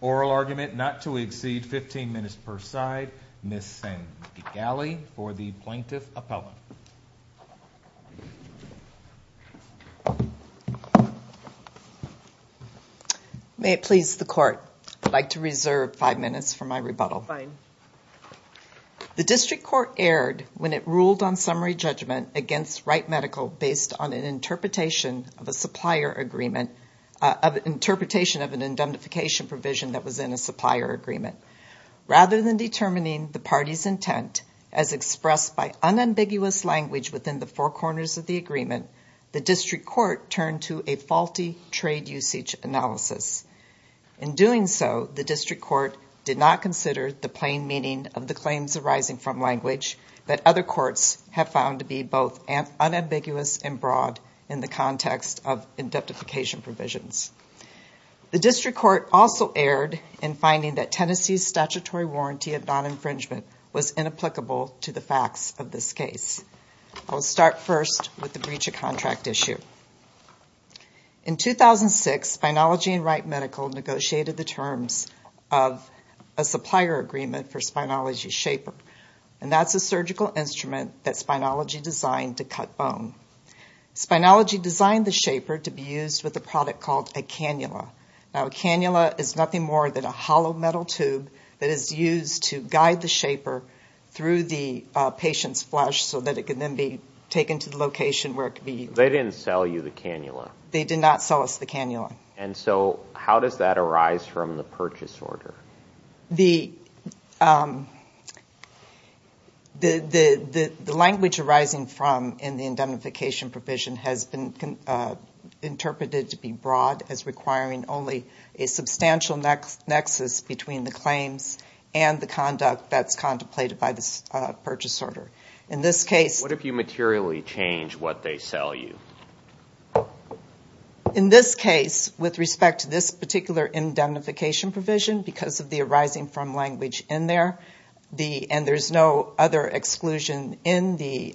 Oral Argument Not to Exceed 15 Minutes per Side, Ms. Sandi Galli for the Plaintiff Appellant. May it please the Court, I'd like to reserve five minutes for my rebuttal. The District Court erred when it ruled on summary judgment against Wright Medical based on an interpretation of an indemnification provision that was in a supplier agreement. Rather than determining the party's intent as expressed by unambiguous language within the four corners of the agreement, the District Court turned to a faulty trade usage analysis. In doing so, the District Court did not consider the plain meaning of the claims arising from language that other courts have found to be both unambiguous and broad in the context of indemnification provisions. The District Court also erred in finding that Tennessee's statutory warranty of non-infringement was inapplicable to the facts of this case. I will start first with the breach of contract issue. In 2006, Spineology and Wright Medical negotiated the terms of a supplier agreement for Spineology's Shaper, and that's a surgical instrument that Spineology designed to cut bone. Spineology designed the Shaper to be used with a product called a cannula. Now, a cannula is nothing more than a hollow metal tube that is used to guide the Shaper through the patient's flesh so that it can then be taken to the location where it could be used. They didn't sell you the cannula. They did not sell us the cannula. And so how does that arise from the purchase order? The language arising from in the indemnification provision has been interpreted to be broad as requiring only a substantial nexus between the claims and the conduct that's contemplated by the purchase order. In this case... What if you materially change what they sell you? In this case, with respect to this particular indemnification provision, because of the arising from language in there and there's no other exclusion in the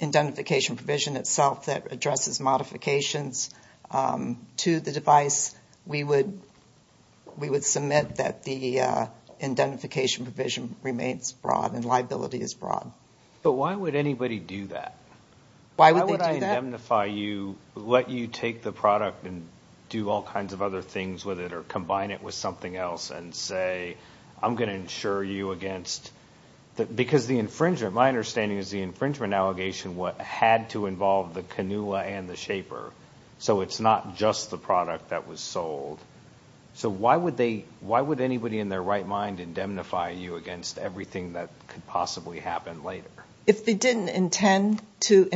indemnification provision itself that addresses modifications to the device, we would submit that the indemnification provision remains broad and liability is broad. But why would anybody do that? Why would they indemnify you, let you take the product and do all kinds of other things with it or combine it with something else and say, I'm going to insure you against... Because the infringement, my understanding is the infringement allegation had to involve the cannula and the Shaper. So it's not just the product that was sold. So why would anybody in their right mind indemnify you against everything that could possibly happen later? If they didn't intend for the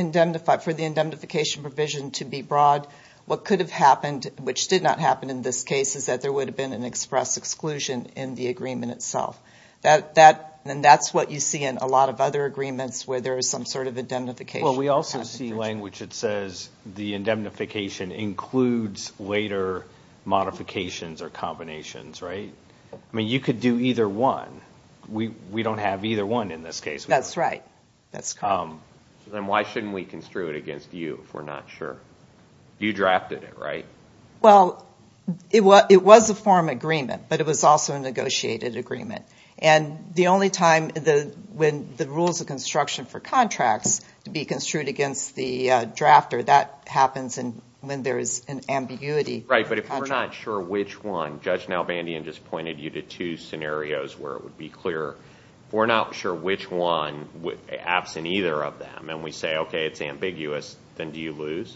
indemnification provision to be broad, what could have happened, which did not happen in this case, is that there would have been an express exclusion in the agreement itself. And that's what you see in a lot of other agreements where there is some sort of indemnification. Well, we also see language that says the indemnification includes later modifications or combinations, right? I mean, you could do either one. We don't have either one in this case. That's right. That's correct. Then why shouldn't we construe it against you if we're not sure? You drafted it, right? Well, it was a form agreement, but it was also a negotiated agreement. And the only time when the rules of construction for contracts to be construed against the drafter, that happens when there is an ambiguity. Right, but if we're not sure which one, Judge Nalbandian just pointed you to two scenarios where it would be clear. If we're not sure which one, absent either of them, and we say, okay, it's ambiguous, then do you lose?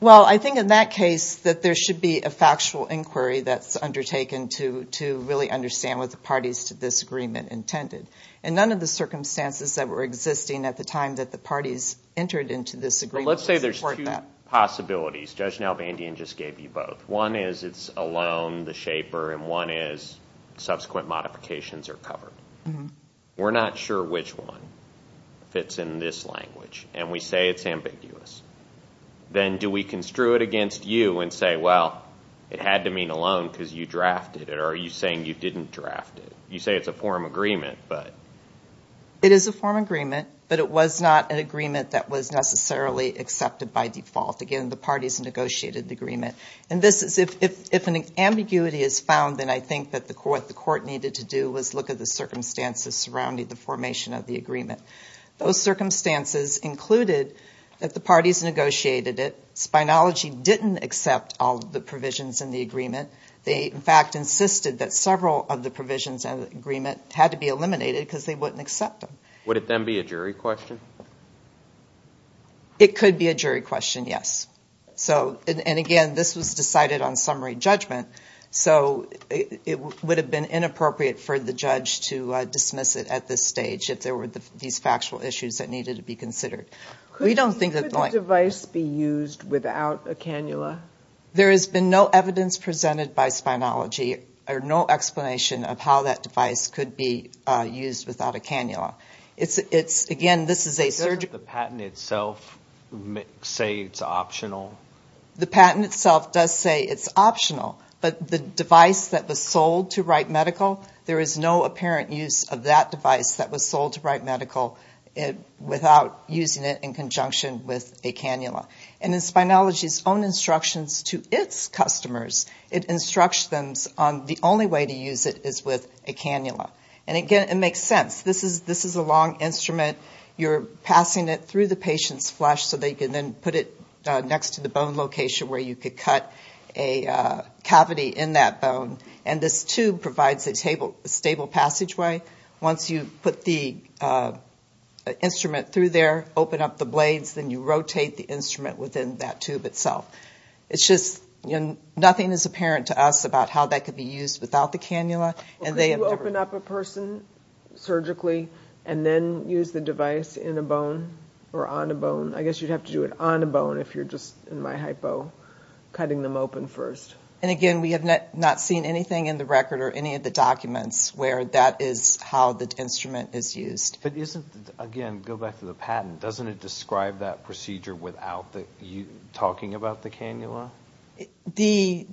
Well, I think in that case that there should be a factual inquiry that's undertaken to really understand what the parties to this agreement intended. And none of the circumstances that were existing at the time that the parties entered into this agreement would support that. Well, let's say there's two possibilities. Judge Nalbandian just gave you both. One is it's a loan, the shaper, and one is subsequent modifications are covered. We're not sure which one fits in this language, and we say it's ambiguous. Then do we construe it against you and say, well, it had to mean a loan because you drafted it, or are you saying you didn't draft it? You say it's a form agreement, but. It is a form agreement, but it was not an agreement that was necessarily accepted by default. Again, the parties negotiated the agreement. If an ambiguity is found, then I think what the court needed to do was look at the circumstances surrounding the formation of the agreement. Those circumstances included that the parties negotiated it. Spynology didn't accept all the provisions in the agreement. They, in fact, insisted that several of the provisions in the agreement had to be eliminated because they wouldn't accept them. Would it then be a jury question? It could be a jury question, yes. Again, this was decided on summary judgment, so it would have been inappropriate for the judge to dismiss it at this stage if there were these factual issues that needed to be considered. Could the device be used without a cannula? There has been no evidence presented by Spynology or no explanation of how that device could be used without a cannula. Does the patent itself say it's optional? The patent itself does say it's optional, but the device that was sold to Wright Medical, there is no apparent use of that device that was sold to Wright Medical without using it in conjunction with a cannula. In Spynology's own instructions to its customers, the only way to use it is with a cannula. And again, it makes sense. This is a long instrument. You're passing it through the patient's flesh so they can then put it next to the bone location where you could cut a cavity in that bone. And this tube provides a stable passageway. Once you put the instrument through there, open up the blades, then you rotate the instrument within that tube itself. It's just nothing is apparent to us about how that could be used without the cannula. Could you open up a person surgically and then use the device in a bone or on a bone? I guess you'd have to do it on a bone if you're just, in my hypo, cutting them open first. And again, we have not seen anything in the record or any of the documents where that is how the instrument is used. Again, go back to the patent. Doesn't it describe that procedure without you talking about the cannula? The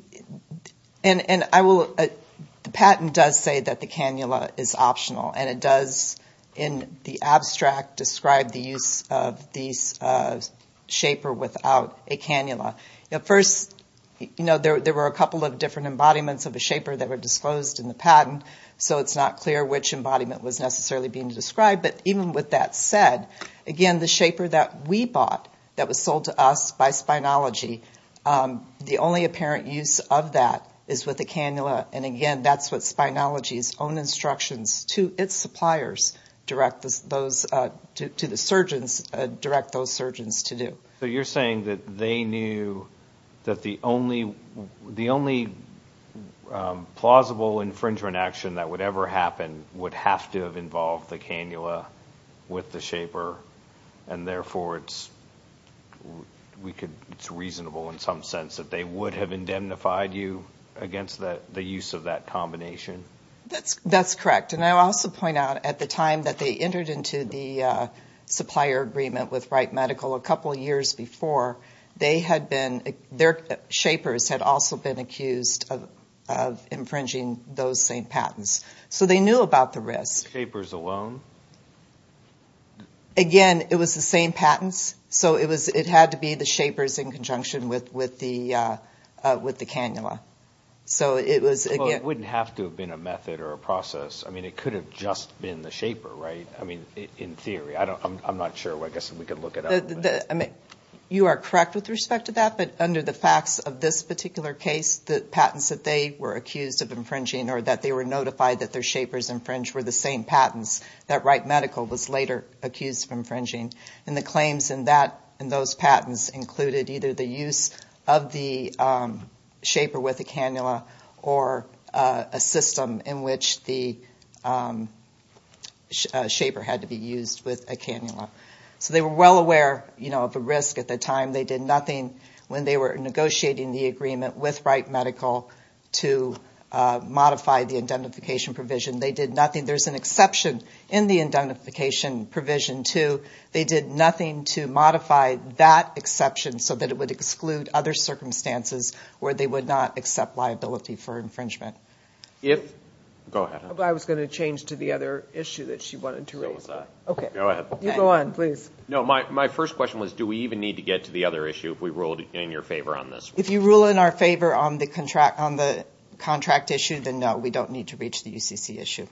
patent does say that the cannula is optional, and it does, in the abstract, describe the use of these shaper without a cannula. First, there were a couple of different embodiments of a shaper that were disclosed in the patent, so it's not clear which embodiment was necessarily being described. But even with that said, again, the shaper that we bought that was sold to us by Spinalogy, the only apparent use of that is with the cannula. And again, that's what Spinalogy's own instructions to its suppliers, to the surgeons, direct those surgeons to do. So you're saying that they knew that the only plausible infringement action that would ever happen would have to have involved the cannula with the shaper, and therefore it's reasonable in some sense that they would have indemnified you against the use of that combination? That's correct. And I'll also point out, at the time that they entered into the supplier agreement with Wright Medical, a couple of years before, their shapers had also been accused of infringing those same patents. So they knew about the risk. The shapers alone? Again, it was the same patents, so it had to be the shapers in conjunction with the cannula. Well, it wouldn't have to have been a method or a process. I mean, it could have just been the shaper, right? I mean, in theory. I'm not sure. I guess we could look it up. You are correct with respect to that, but under the facts of this particular case, the patents that they were accused of infringing or that they were notified that their shapers infringed were the same patents that Wright Medical was later accused of infringing. And the claims in those patents included either the use of the shaper with a cannula or a system in which the shaper had to be used with a cannula. So they were well aware of the risk at the time. They did nothing when they were negotiating the agreement with Wright Medical to modify the indemnification provision. They did nothing. There's an exception in the indemnification provision, too. They did nothing to modify that exception so that it would exclude other circumstances where they would not accept liability for infringement. Go ahead. I was going to change to the other issue that she wanted to raise. Okay. Go ahead. You go on, please. No, my first question was do we even need to get to the other issue if we ruled in your favor on this? If you rule in our favor on the contract issue, then no, we don't need to reach the UCC issue.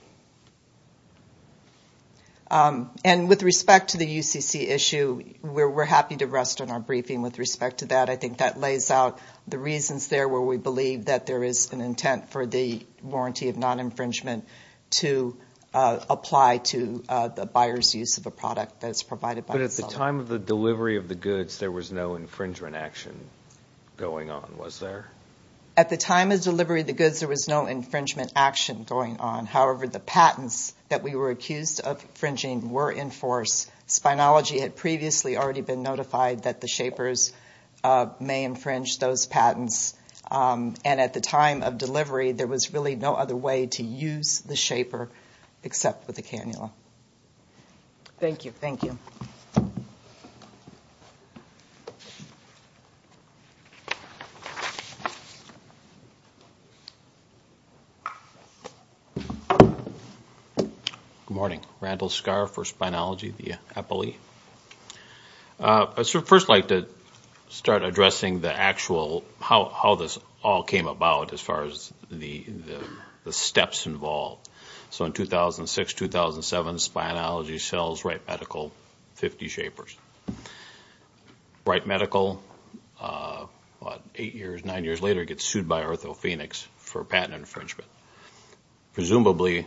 And with respect to the UCC issue, we're happy to rest on our briefing with respect to that. I think that lays out the reasons there where we believe that there is an intent for the warranty of non-infringement to apply to the buyer's use of a product that is provided by the seller. But at the time of the delivery of the goods, there was no infringement action going on, was there? At the time of the delivery of the goods, there was no infringement action going on. However, the patents that we were accused of infringing were in force. Spynology had previously already been notified that the shapers may infringe those patents. And at the time of delivery, there was really no other way to use the shaper except with a cannula. Thank you. Thank you. Good morning. Randall Scarr for Spynology, the EPILEE. I'd first like to start addressing the actual how this all came about as far as the steps involved. So in 2006, 2007, Spynology sells Wright Medical 50 shapers. Wright Medical, what, eight years, nine years later, gets sued by OrthoPhoenix for patent infringement. Presumably,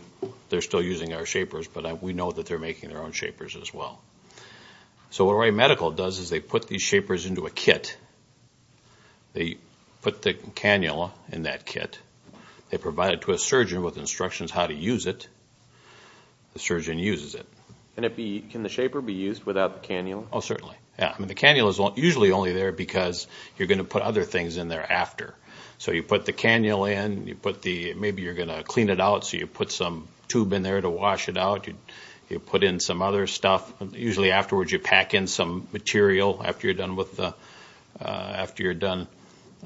they're still using our shapers, but we know that they're making their own shapers as well. So what Wright Medical does is they put these shapers into a kit. They put the cannula in that kit. They provide it to a surgeon with instructions how to use it. The surgeon uses it. Can the shaper be used without the cannula? Oh, certainly. The cannula is usually only there because you're going to put other things in there after. So you put the cannula in. Maybe you're going to clean it out, so you put some tube in there to wash it out. You put in some other stuff. Usually afterwards, you pack in some material after you're done.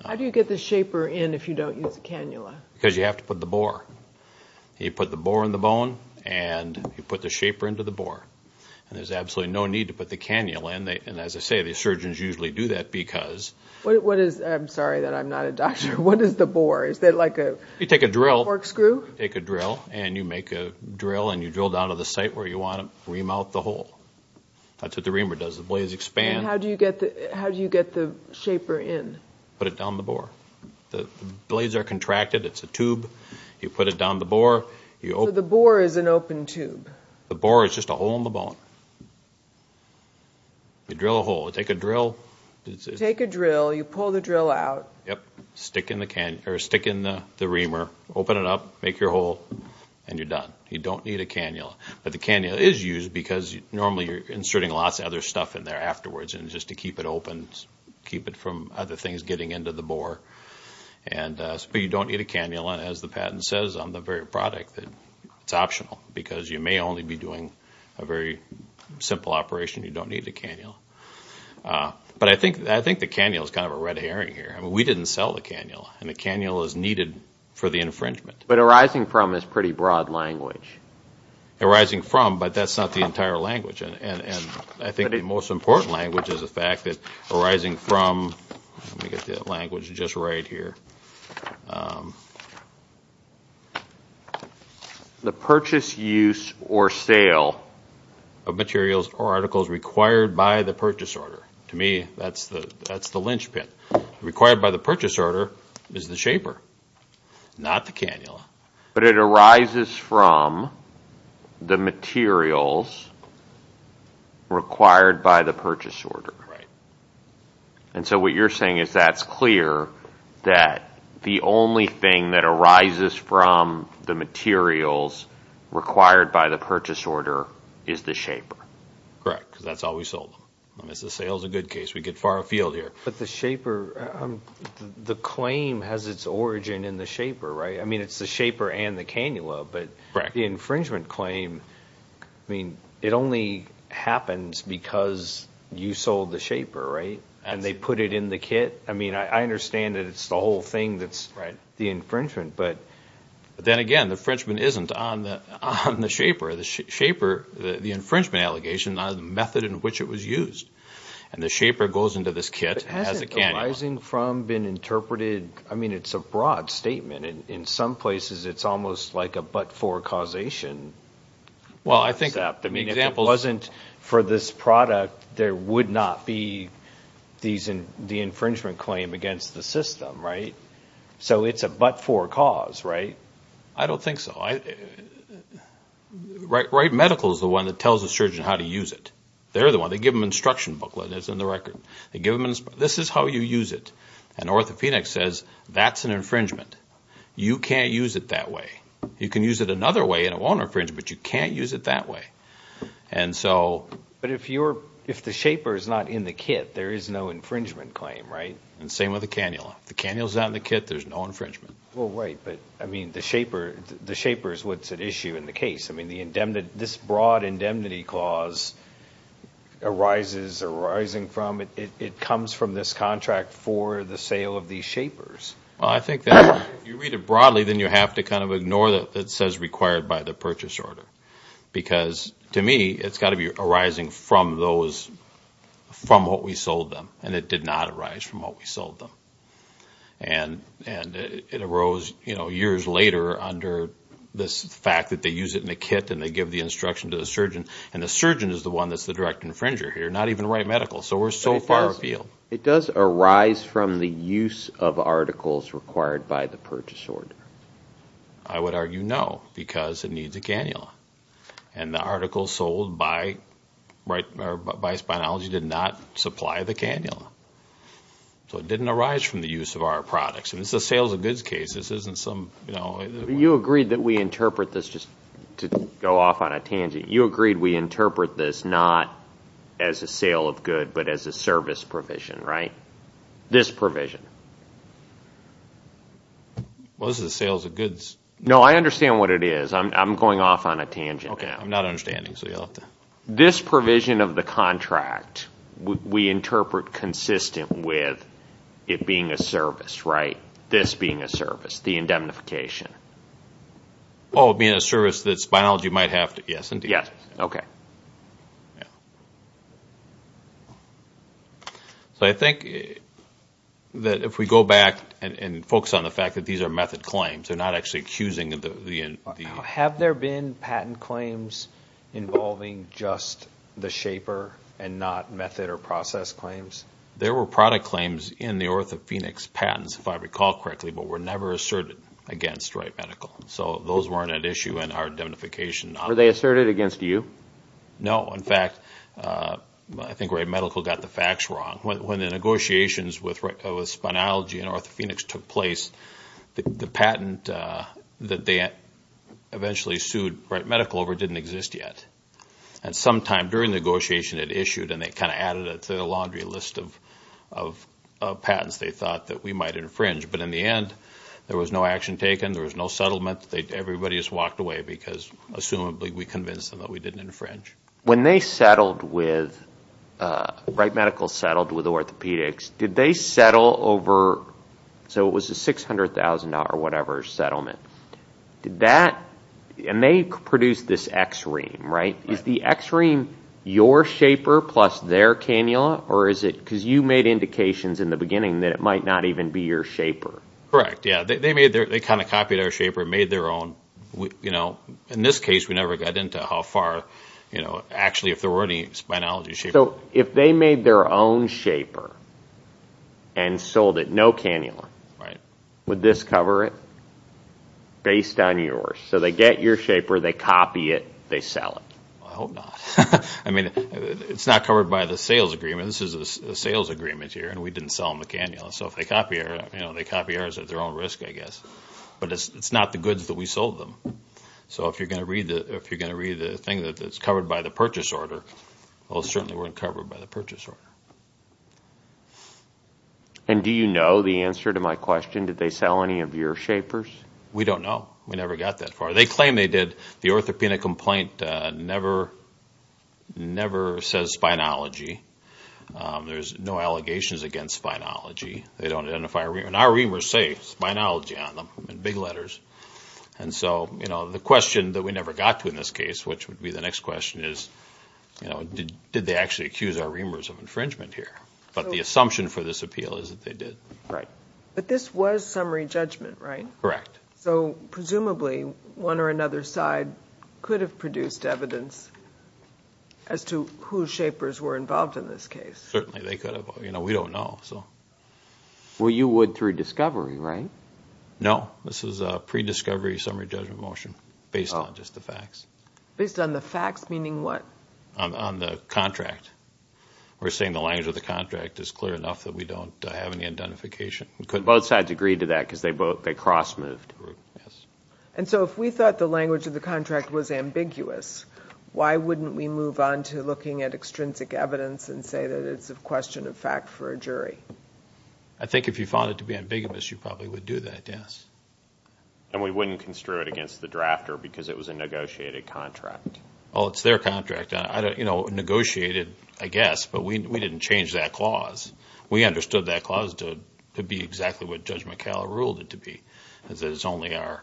How do you get the shaper in if you don't use the cannula? Because you have to put the bore. You put the bore in the bone, and you put the shaper into the bore. And there's absolutely no need to put the cannula in. And as I say, the surgeons usually do that because... I'm sorry that I'm not a doctor. What is the bore? You take a drill. You take a drill, and you make a drill, and you drill down to the site where you want to ream out the hole. That's what the reamer does. The blades expand. And how do you get the shaper in? You put it down the bore. The blades are contracted. It's a tube. You put it down the bore. So the bore is an open tube. The bore is just a hole in the bone. You drill a hole. You take a drill. You take a drill. You pull the drill out. Yep. Stick in the reamer. Open it up. Make your hole, and you're done. You don't need a cannula. But the cannula is used because normally you're inserting lots of other stuff in there afterwards, and just to keep it open, keep it from other things getting into the bore. But you don't need a cannula. As the patent says on the very product, it's optional because you may only be doing a very simple operation. You don't need a cannula. But I think the cannula is kind of a red herring here. I mean, we didn't sell the cannula, and the cannula is needed for the infringement. But arising from is pretty broad language. Arising from, but that's not the entire language. And I think the most important language is the fact that arising from, let me get the language just right here, the purchase, use, or sale of materials or articles required by the purchase order. To me, that's the linchpin. Required by the purchase order is the shaper, not the cannula. But it arises from the materials required by the purchase order. Right. And so what you're saying is that's clear, that the only thing that arises from the materials required by the purchase order is the shaper. Correct, because that's how we sold them. As the sale is a good case, we get far afield here. But the shaper, the claim has its origin in the shaper, right? I mean, it's the shaper and the cannula. But the infringement claim, I mean, it only happens because you sold the shaper, right? And they put it in the kit. I mean, I understand that it's the whole thing that's the infringement. But then again, the infringement isn't on the shaper. The infringement allegation is on the method in which it was used. And the shaper goes into this kit and has a cannula. But has arising from been interpreted? I mean, it's a broad statement. In some places, it's almost like a but-for causation. Well, I think that. I mean, if it wasn't for this product, there would not be the infringement claim against the system, right? So it's a but-for cause, right? I don't think so. Right Medical is the one that tells the surgeon how to use it. They're the one. They give them an instruction booklet that's in the record. This is how you use it. And OrthoPhoenix says, that's an infringement. You can't use it that way. You can use it another way and it won't infringe, but you can't use it that way. And so. But if the shaper is not in the kit, there is no infringement claim, right? And same with the cannula. If the cannula is not in the kit, there's no infringement. Well, right. But, I mean, the shaper is what's at issue in the case. I mean, this broad indemnity clause arises arising from it. It comes from this contract for the sale of these shapers. Well, I think that if you read it broadly, then you have to kind of ignore that it says required by the purchase order. Because, to me, it's got to be arising from those, from what we sold them. And it did not arise from what we sold them. And it arose, you know, years later under this fact that they use it in the kit and they give the instruction to the surgeon. And the surgeon is the one that's the direct infringer here, not even right medical. So we're so far afield. It does arise from the use of articles required by the purchase order. I would argue no, because it needs a cannula. And the articles sold by Spinalogy did not supply the cannula. So it didn't arise from the use of our products. And this is a sales and goods case. This isn't some, you know. You agreed that we interpret this just to go off on a tangent. You agreed we interpret this not as a sale of good, but as a service provision, right? This provision. Well, this is a sales of goods. No, I understand what it is. I'm going off on a tangent now. Okay, I'm not understanding. So you'll have to. This provision of the contract, we interpret consistent with it being a service, right? This being a service, the indemnification. Oh, being a service that Spinalogy might have to. Yes, indeed. Yes, okay. So I think that if we go back and focus on the fact that these are method claims, they're not actually accusing the. Have there been patent claims involving just the shaper and not method or process claims? There were product claims in the OrthoPhoenix patents, if I recall correctly, but were never asserted against Wright Medical. So those weren't at issue in our indemnification. Were they asserted against you? No. In fact, I think Wright Medical got the facts wrong. When the negotiations with Spinalogy and OrthoPhoenix took place, the patent that they eventually sued Wright Medical over didn't exist yet. And sometime during the negotiation it issued, and they kind of added it to the laundry list of patents they thought that we might infringe. But in the end, there was no action taken. There was no settlement. Everybody just walked away because, assumably, we convinced them that we didn't infringe. When they settled with – Wright Medical settled with OrthoPhoenix, did they settle over – so it was a $600,000 or whatever settlement. Did that – and they produced this X ream, right? Is the X ream your shaper plus their cannula, or is it – that it might not even be your shaper? Correct, yeah. They made their – they kind of copied our shaper and made their own. In this case, we never got into how far, actually, if there were any Spinalogy shaper. So if they made their own shaper and sold it, no cannula, would this cover it based on yours? So they get your shaper, they copy it, they sell it. I hope not. I mean, it's not covered by the sales agreement. This is a sales agreement here, and we didn't sell them a cannula. So if they copy ours, they copy ours at their own risk, I guess. But it's not the goods that we sold them. So if you're going to read the thing that's covered by the purchase order, those certainly weren't covered by the purchase order. And do you know the answer to my question, did they sell any of your shapers? We don't know. We never got that far. They claim they did. The orthopedic complaint never says Spinalogy. There's no allegations against Spinalogy. They don't identify a reamer. And our reamers say Spinalogy on them in big letters. And so, you know, the question that we never got to in this case, which would be the next question, is, you know, did they actually accuse our reamers of infringement here? But the assumption for this appeal is that they did. Right. But this was summary judgment, right? Correct. So presumably one or another side could have produced evidence as to whose shapers were involved in this case. Certainly they could have. You know, we don't know. Well, you would through discovery, right? No. This is a pre-discovery summary judgment motion based on just the facts. Based on the facts meaning what? On the contract. We're saying the language of the contract is clear enough that we don't have any identification. Both sides agreed to that because they cross-moved. And so if we thought the language of the contract was ambiguous, why wouldn't we move on to looking at extrinsic evidence and say that it's a question of fact for a jury? I think if you found it to be ambiguous, you probably would do that, yes. And we wouldn't construe it against the drafter because it was a negotiated contract. Well, it's their contract. You know, negotiated, I guess, but we didn't change that clause. We understood that clause to be exactly what Judge McAllen ruled it to be. It's only our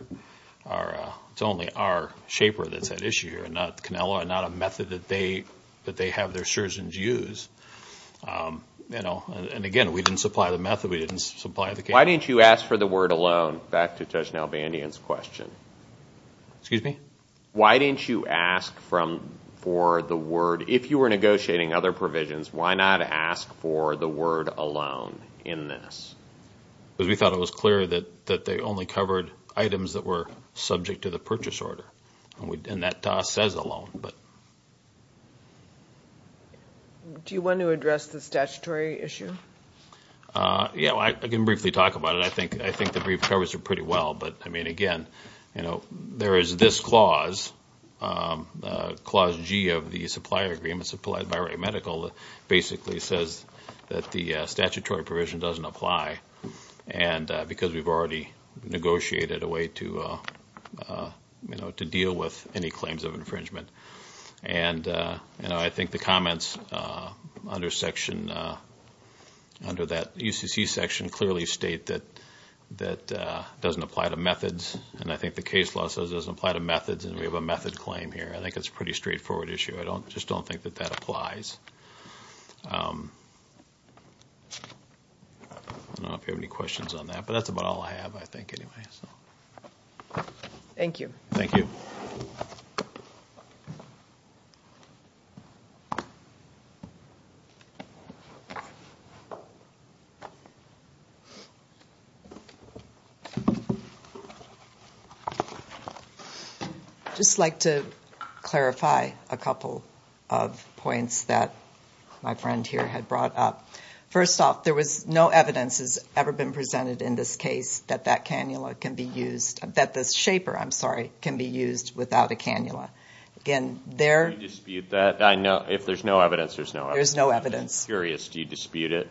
shaper that's at issue here and not Canella and not a method that they have their surgeons use. You know, and again, we didn't supply the method. We didn't supply the case. Why didn't you ask for the word alone? Back to Judge Nalbandian's question. Excuse me? Why didn't you ask for the word? If you were negotiating other provisions, why not ask for the word alone in this? Because we thought it was clear that they only covered items that were subject to the purchase order, and that says alone. Do you want to address the statutory issue? Yeah, I can briefly talk about it. I think the brief covers it pretty well. But, I mean, again, you know, there is this clause, Clause G of the supplier agreement supplied by Ray Medical, that basically says that the statutory provision doesn't apply because we've already negotiated a way to deal with any claims of infringement. And, you know, I think the comments under that UCC section clearly state that it doesn't apply to methods. And I think the case law says it doesn't apply to methods, and we have a method claim here. I think it's a pretty straightforward issue. I just don't think that that applies. I don't know if you have any questions on that. But that's about all I have, I think, anyway. Thank you. Thank you. I'd just like to clarify a couple of points that my friend here had brought up. First off, there was no evidence that's ever been presented in this case that that cannula can be used, that this shaper, I'm sorry, can be used without a cannula. Can you dispute that? If there's no evidence, there's no evidence. There's no evidence. I'm just curious, do you dispute it?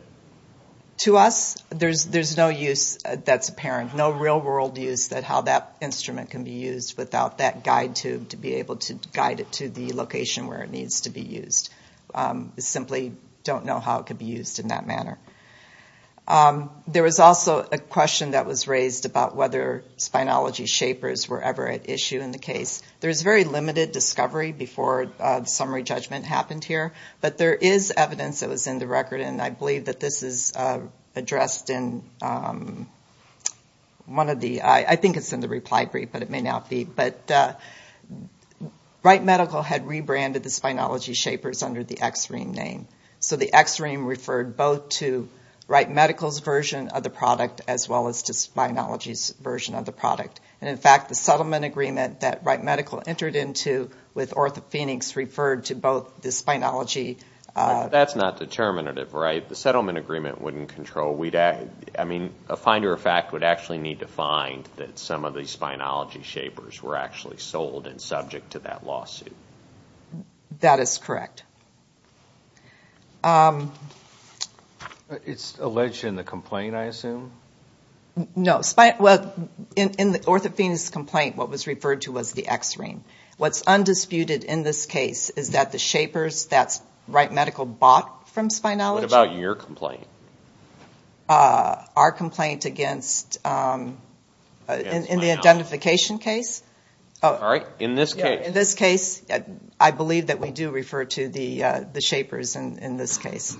To us, there's no use that's apparent, no real-world use that how that instrument can be used without that guide tube to be able to guide it to the location where it needs to be used. We simply don't know how it could be used in that manner. There was also a question that was raised about whether spinology shapers were ever at issue in the case. There was very limited discovery before the summary judgment happened here. But there is evidence that was in the record, and I believe that this is addressed in one of the, I think it's in the reply brief, but it may not be. But Wright Medical had rebranded the spinology shapers under the X-Ream name. So the X-Ream referred both to Wright Medical's version of the product as well as to spinology's version of the product. And, in fact, the settlement agreement that Wright Medical entered into with OrthoPhoenix referred to both the spinology. That's not determinative, right? The settlement agreement wouldn't control. I mean, a finder of fact would actually need to find that some of these spinology shapers were actually sold and subject to that lawsuit. That is correct. It's alleged in the complaint, I assume? No. Well, in the OrthoPhoenix complaint, what was referred to was the X-Ream. What's undisputed in this case is that the shapers, that's Wright Medical bought from spinology. What about your complaint? Our complaint against, in the identification case. All right. In this case. I believe that we do refer to the shapers in this case.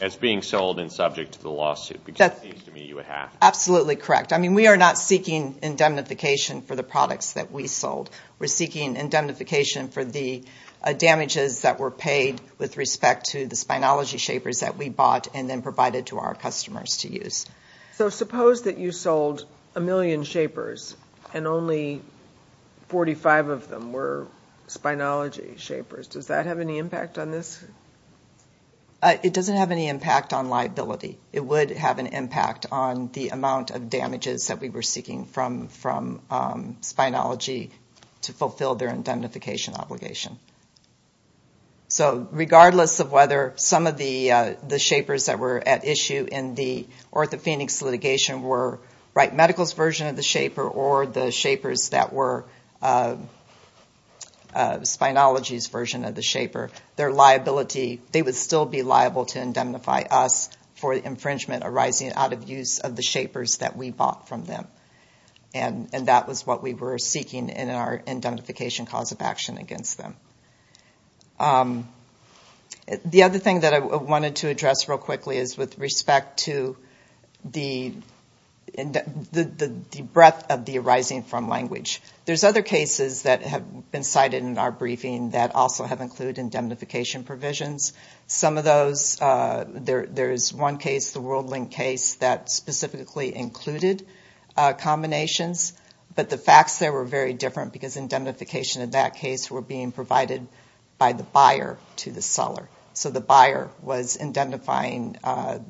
As being sold and subject to the lawsuit, because it seems to me you would have. Absolutely correct. I mean, we are not seeking indemnification for the products that we sold. We're seeking indemnification for the damages that were paid with respect to the spinology shapers that we bought and then provided to our customers to use. So suppose that you sold a million shapers, and only 45 of them were spinology shapers. Does that have any impact on this? It doesn't have any impact on liability. It would have an impact on the amount of damages that we were seeking from spinology to fulfill their indemnification obligation. So regardless of whether some of the shapers that were at issue in the North of Phoenix litigation were Wright Medical's version of the shaper or the shapers that were spinology's version of the shaper, their liability, they would still be liable to indemnify us for the infringement arising out of use of the shapers that we bought from them. And that was what we were seeking in our indemnification cause of action against them. The other thing that I wanted to address real quickly is with respect to the breadth of the arising from language. There's other cases that have been cited in our briefing that also have included indemnification provisions. Some of those, there's one case, the WorldLink case, that specifically included combinations, but the facts there were very different because indemnification in that case were being provided by the buyer to the seller. So the buyer was indemnifying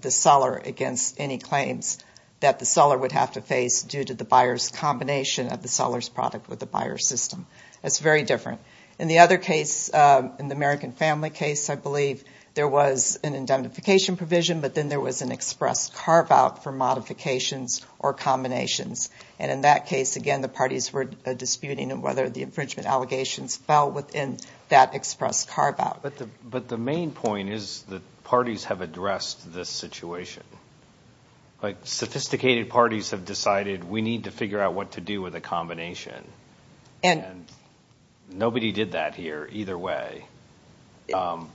the seller against any claims that the seller would have to face due to the buyer's combination of the seller's product with the buyer's system. That's very different. In the other case, in the American Family case, I believe, there was an indemnification provision, but then there was an express carve-out for modifications or combinations. And in that case, again, the parties were disputing whether the infringement allegations fell within that express carve-out. But the main point is that parties have addressed this situation. Like, sophisticated parties have decided we need to figure out what to do with a combination. And nobody did that here either way. And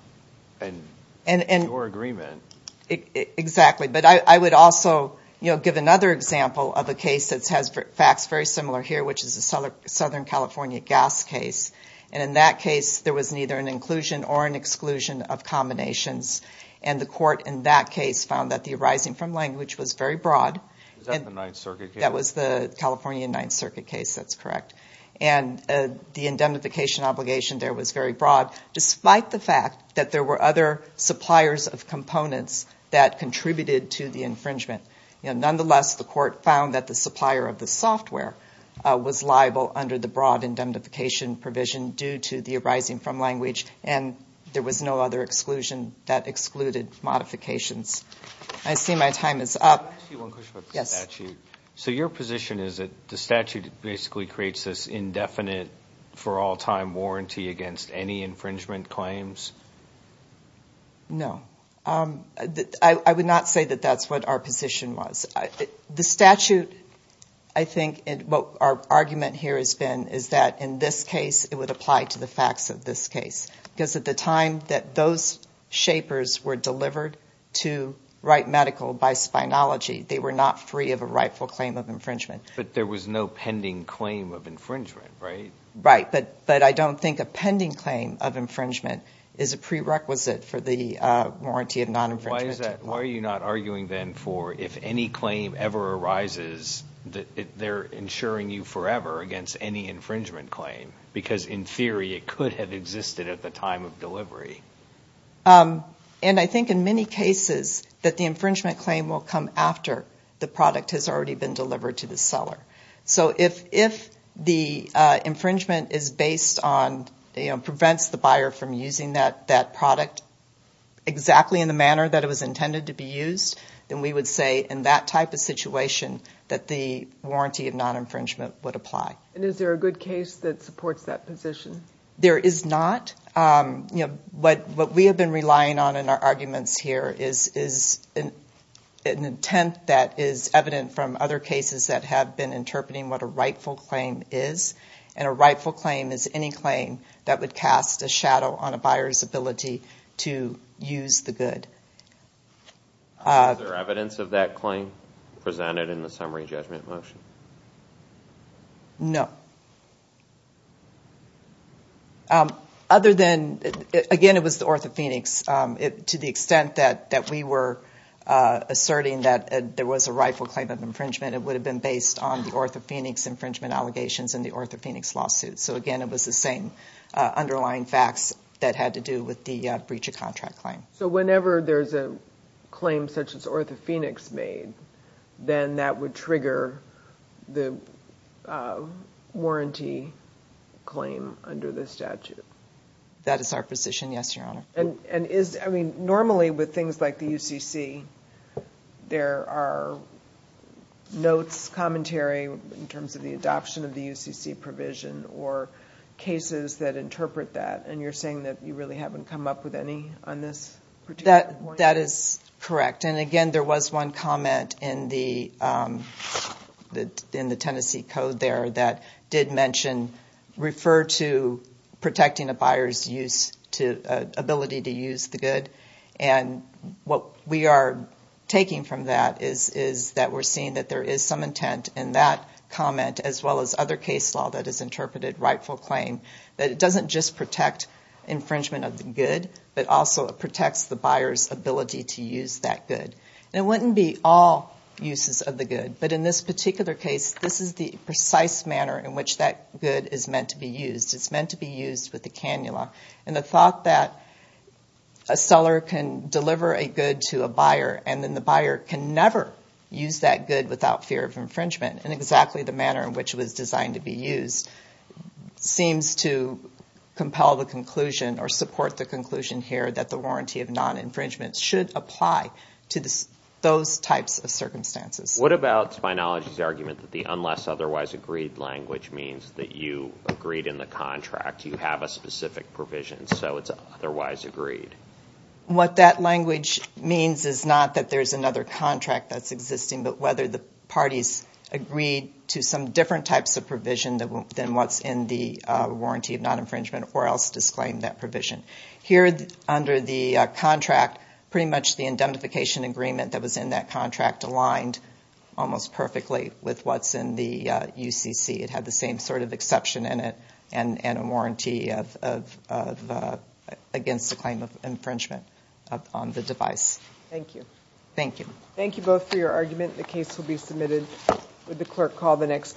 your agreement. Exactly. But I would also give another example of a case that has facts very similar here, which is a Southern California gas case. And in that case, there was neither an inclusion or an exclusion of combinations. And the court in that case found that the arising from language was very broad. Is that the Ninth Circuit case? That was the California Ninth Circuit case. That's correct. And the indemnification obligation there was very broad, despite the fact that there were other suppliers of components that contributed to the infringement. Nonetheless, the court found that the supplier of the software was liable under the broad indemnification provision due to the arising from language. And there was no other exclusion that excluded modifications. I see my time is up. Yes. So your position is that the statute basically creates this indefinite for all-time warranty against any infringement claims? No. I would not say that that's what our position was. The statute, I think, what our argument here has been is that in this case, it would apply to the facts of this case. Because at the time that those shapers were delivered to Wright Medical by Spynology, they were not free of a rightful claim of infringement. But there was no pending claim of infringement, right? Right. But I don't think a pending claim of infringement is a prerequisite for the warranty of non-infringement. Why are you not arguing then for if any claim ever arises, they're insuring you forever against any infringement claim? Because in theory, it could have existed at the time of delivery. And I think in many cases, that the infringement claim will come after the product has already been delivered to the seller. So if the infringement is based on, you know, prevents the buyer from using that product exactly in the manner that it was intended to be used, then we would say in that type of situation that the warranty of non-infringement would apply. And is there a good case that supports that position? There is not. You know, what we have been relying on in our arguments here is an intent that is evident from other cases that have been interpreting what a rightful claim is. And a rightful claim is any claim that would cast a shadow on a buyer's ability to use the good. Is there evidence of that claim presented in the summary judgment motion? No. Other than, again, it was the OrthoPhoenix. To the extent that we were asserting that there was a rightful claim of infringement, it would have been based on the OrthoPhoenix infringement allegations and the OrthoPhoenix lawsuit. So again, it was the same underlying facts that had to do with the breach of contract claim. So whenever there's a claim such as OrthoPhoenix made, then that would trigger the warranty claim under the statute? That is our position, yes, Your Honor. And is, I mean, normally with things like the UCC, there are notes, commentary in terms of the adoption of the UCC provision or cases that interpret that, and you're saying that you really haven't come up with any on this? That is correct. And, again, there was one comment in the Tennessee Code there that did mention refer to protecting a buyer's ability to use the good. And what we are taking from that is that we're seeing that there is some intent in that comment, as well as other case law that has interpreted rightful claim, that it doesn't just protect infringement of the good, but also it protects the buyer's ability to use that good. And it wouldn't be all uses of the good, but in this particular case, this is the precise manner in which that good is meant to be used. It's meant to be used with the cannula. And the thought that a seller can deliver a good to a buyer and then the buyer can never use that good without fear of infringement in exactly the manner in which it was designed to be used seems to compel the conclusion or support the conclusion here that the warranty of non-infringement should apply to those types of circumstances. What about Spynology's argument that the unless-otherwise-agreed language means that you agreed in the contract, you have a specific provision, so it's otherwise agreed? What that language means is not that there's another contract that's existing, but whether the parties agreed to some different types of provision than what's in the warranty of non-infringement or else disclaimed that provision. Here under the contract, pretty much the indemnification agreement that was in that contract aligned almost perfectly with what's in the UCC. It had the same sort of exception in it and a warranty against the claim of infringement on the device. Thank you. Thank you. Thank you both for your argument. The case will be submitted. Would the clerk call the next case?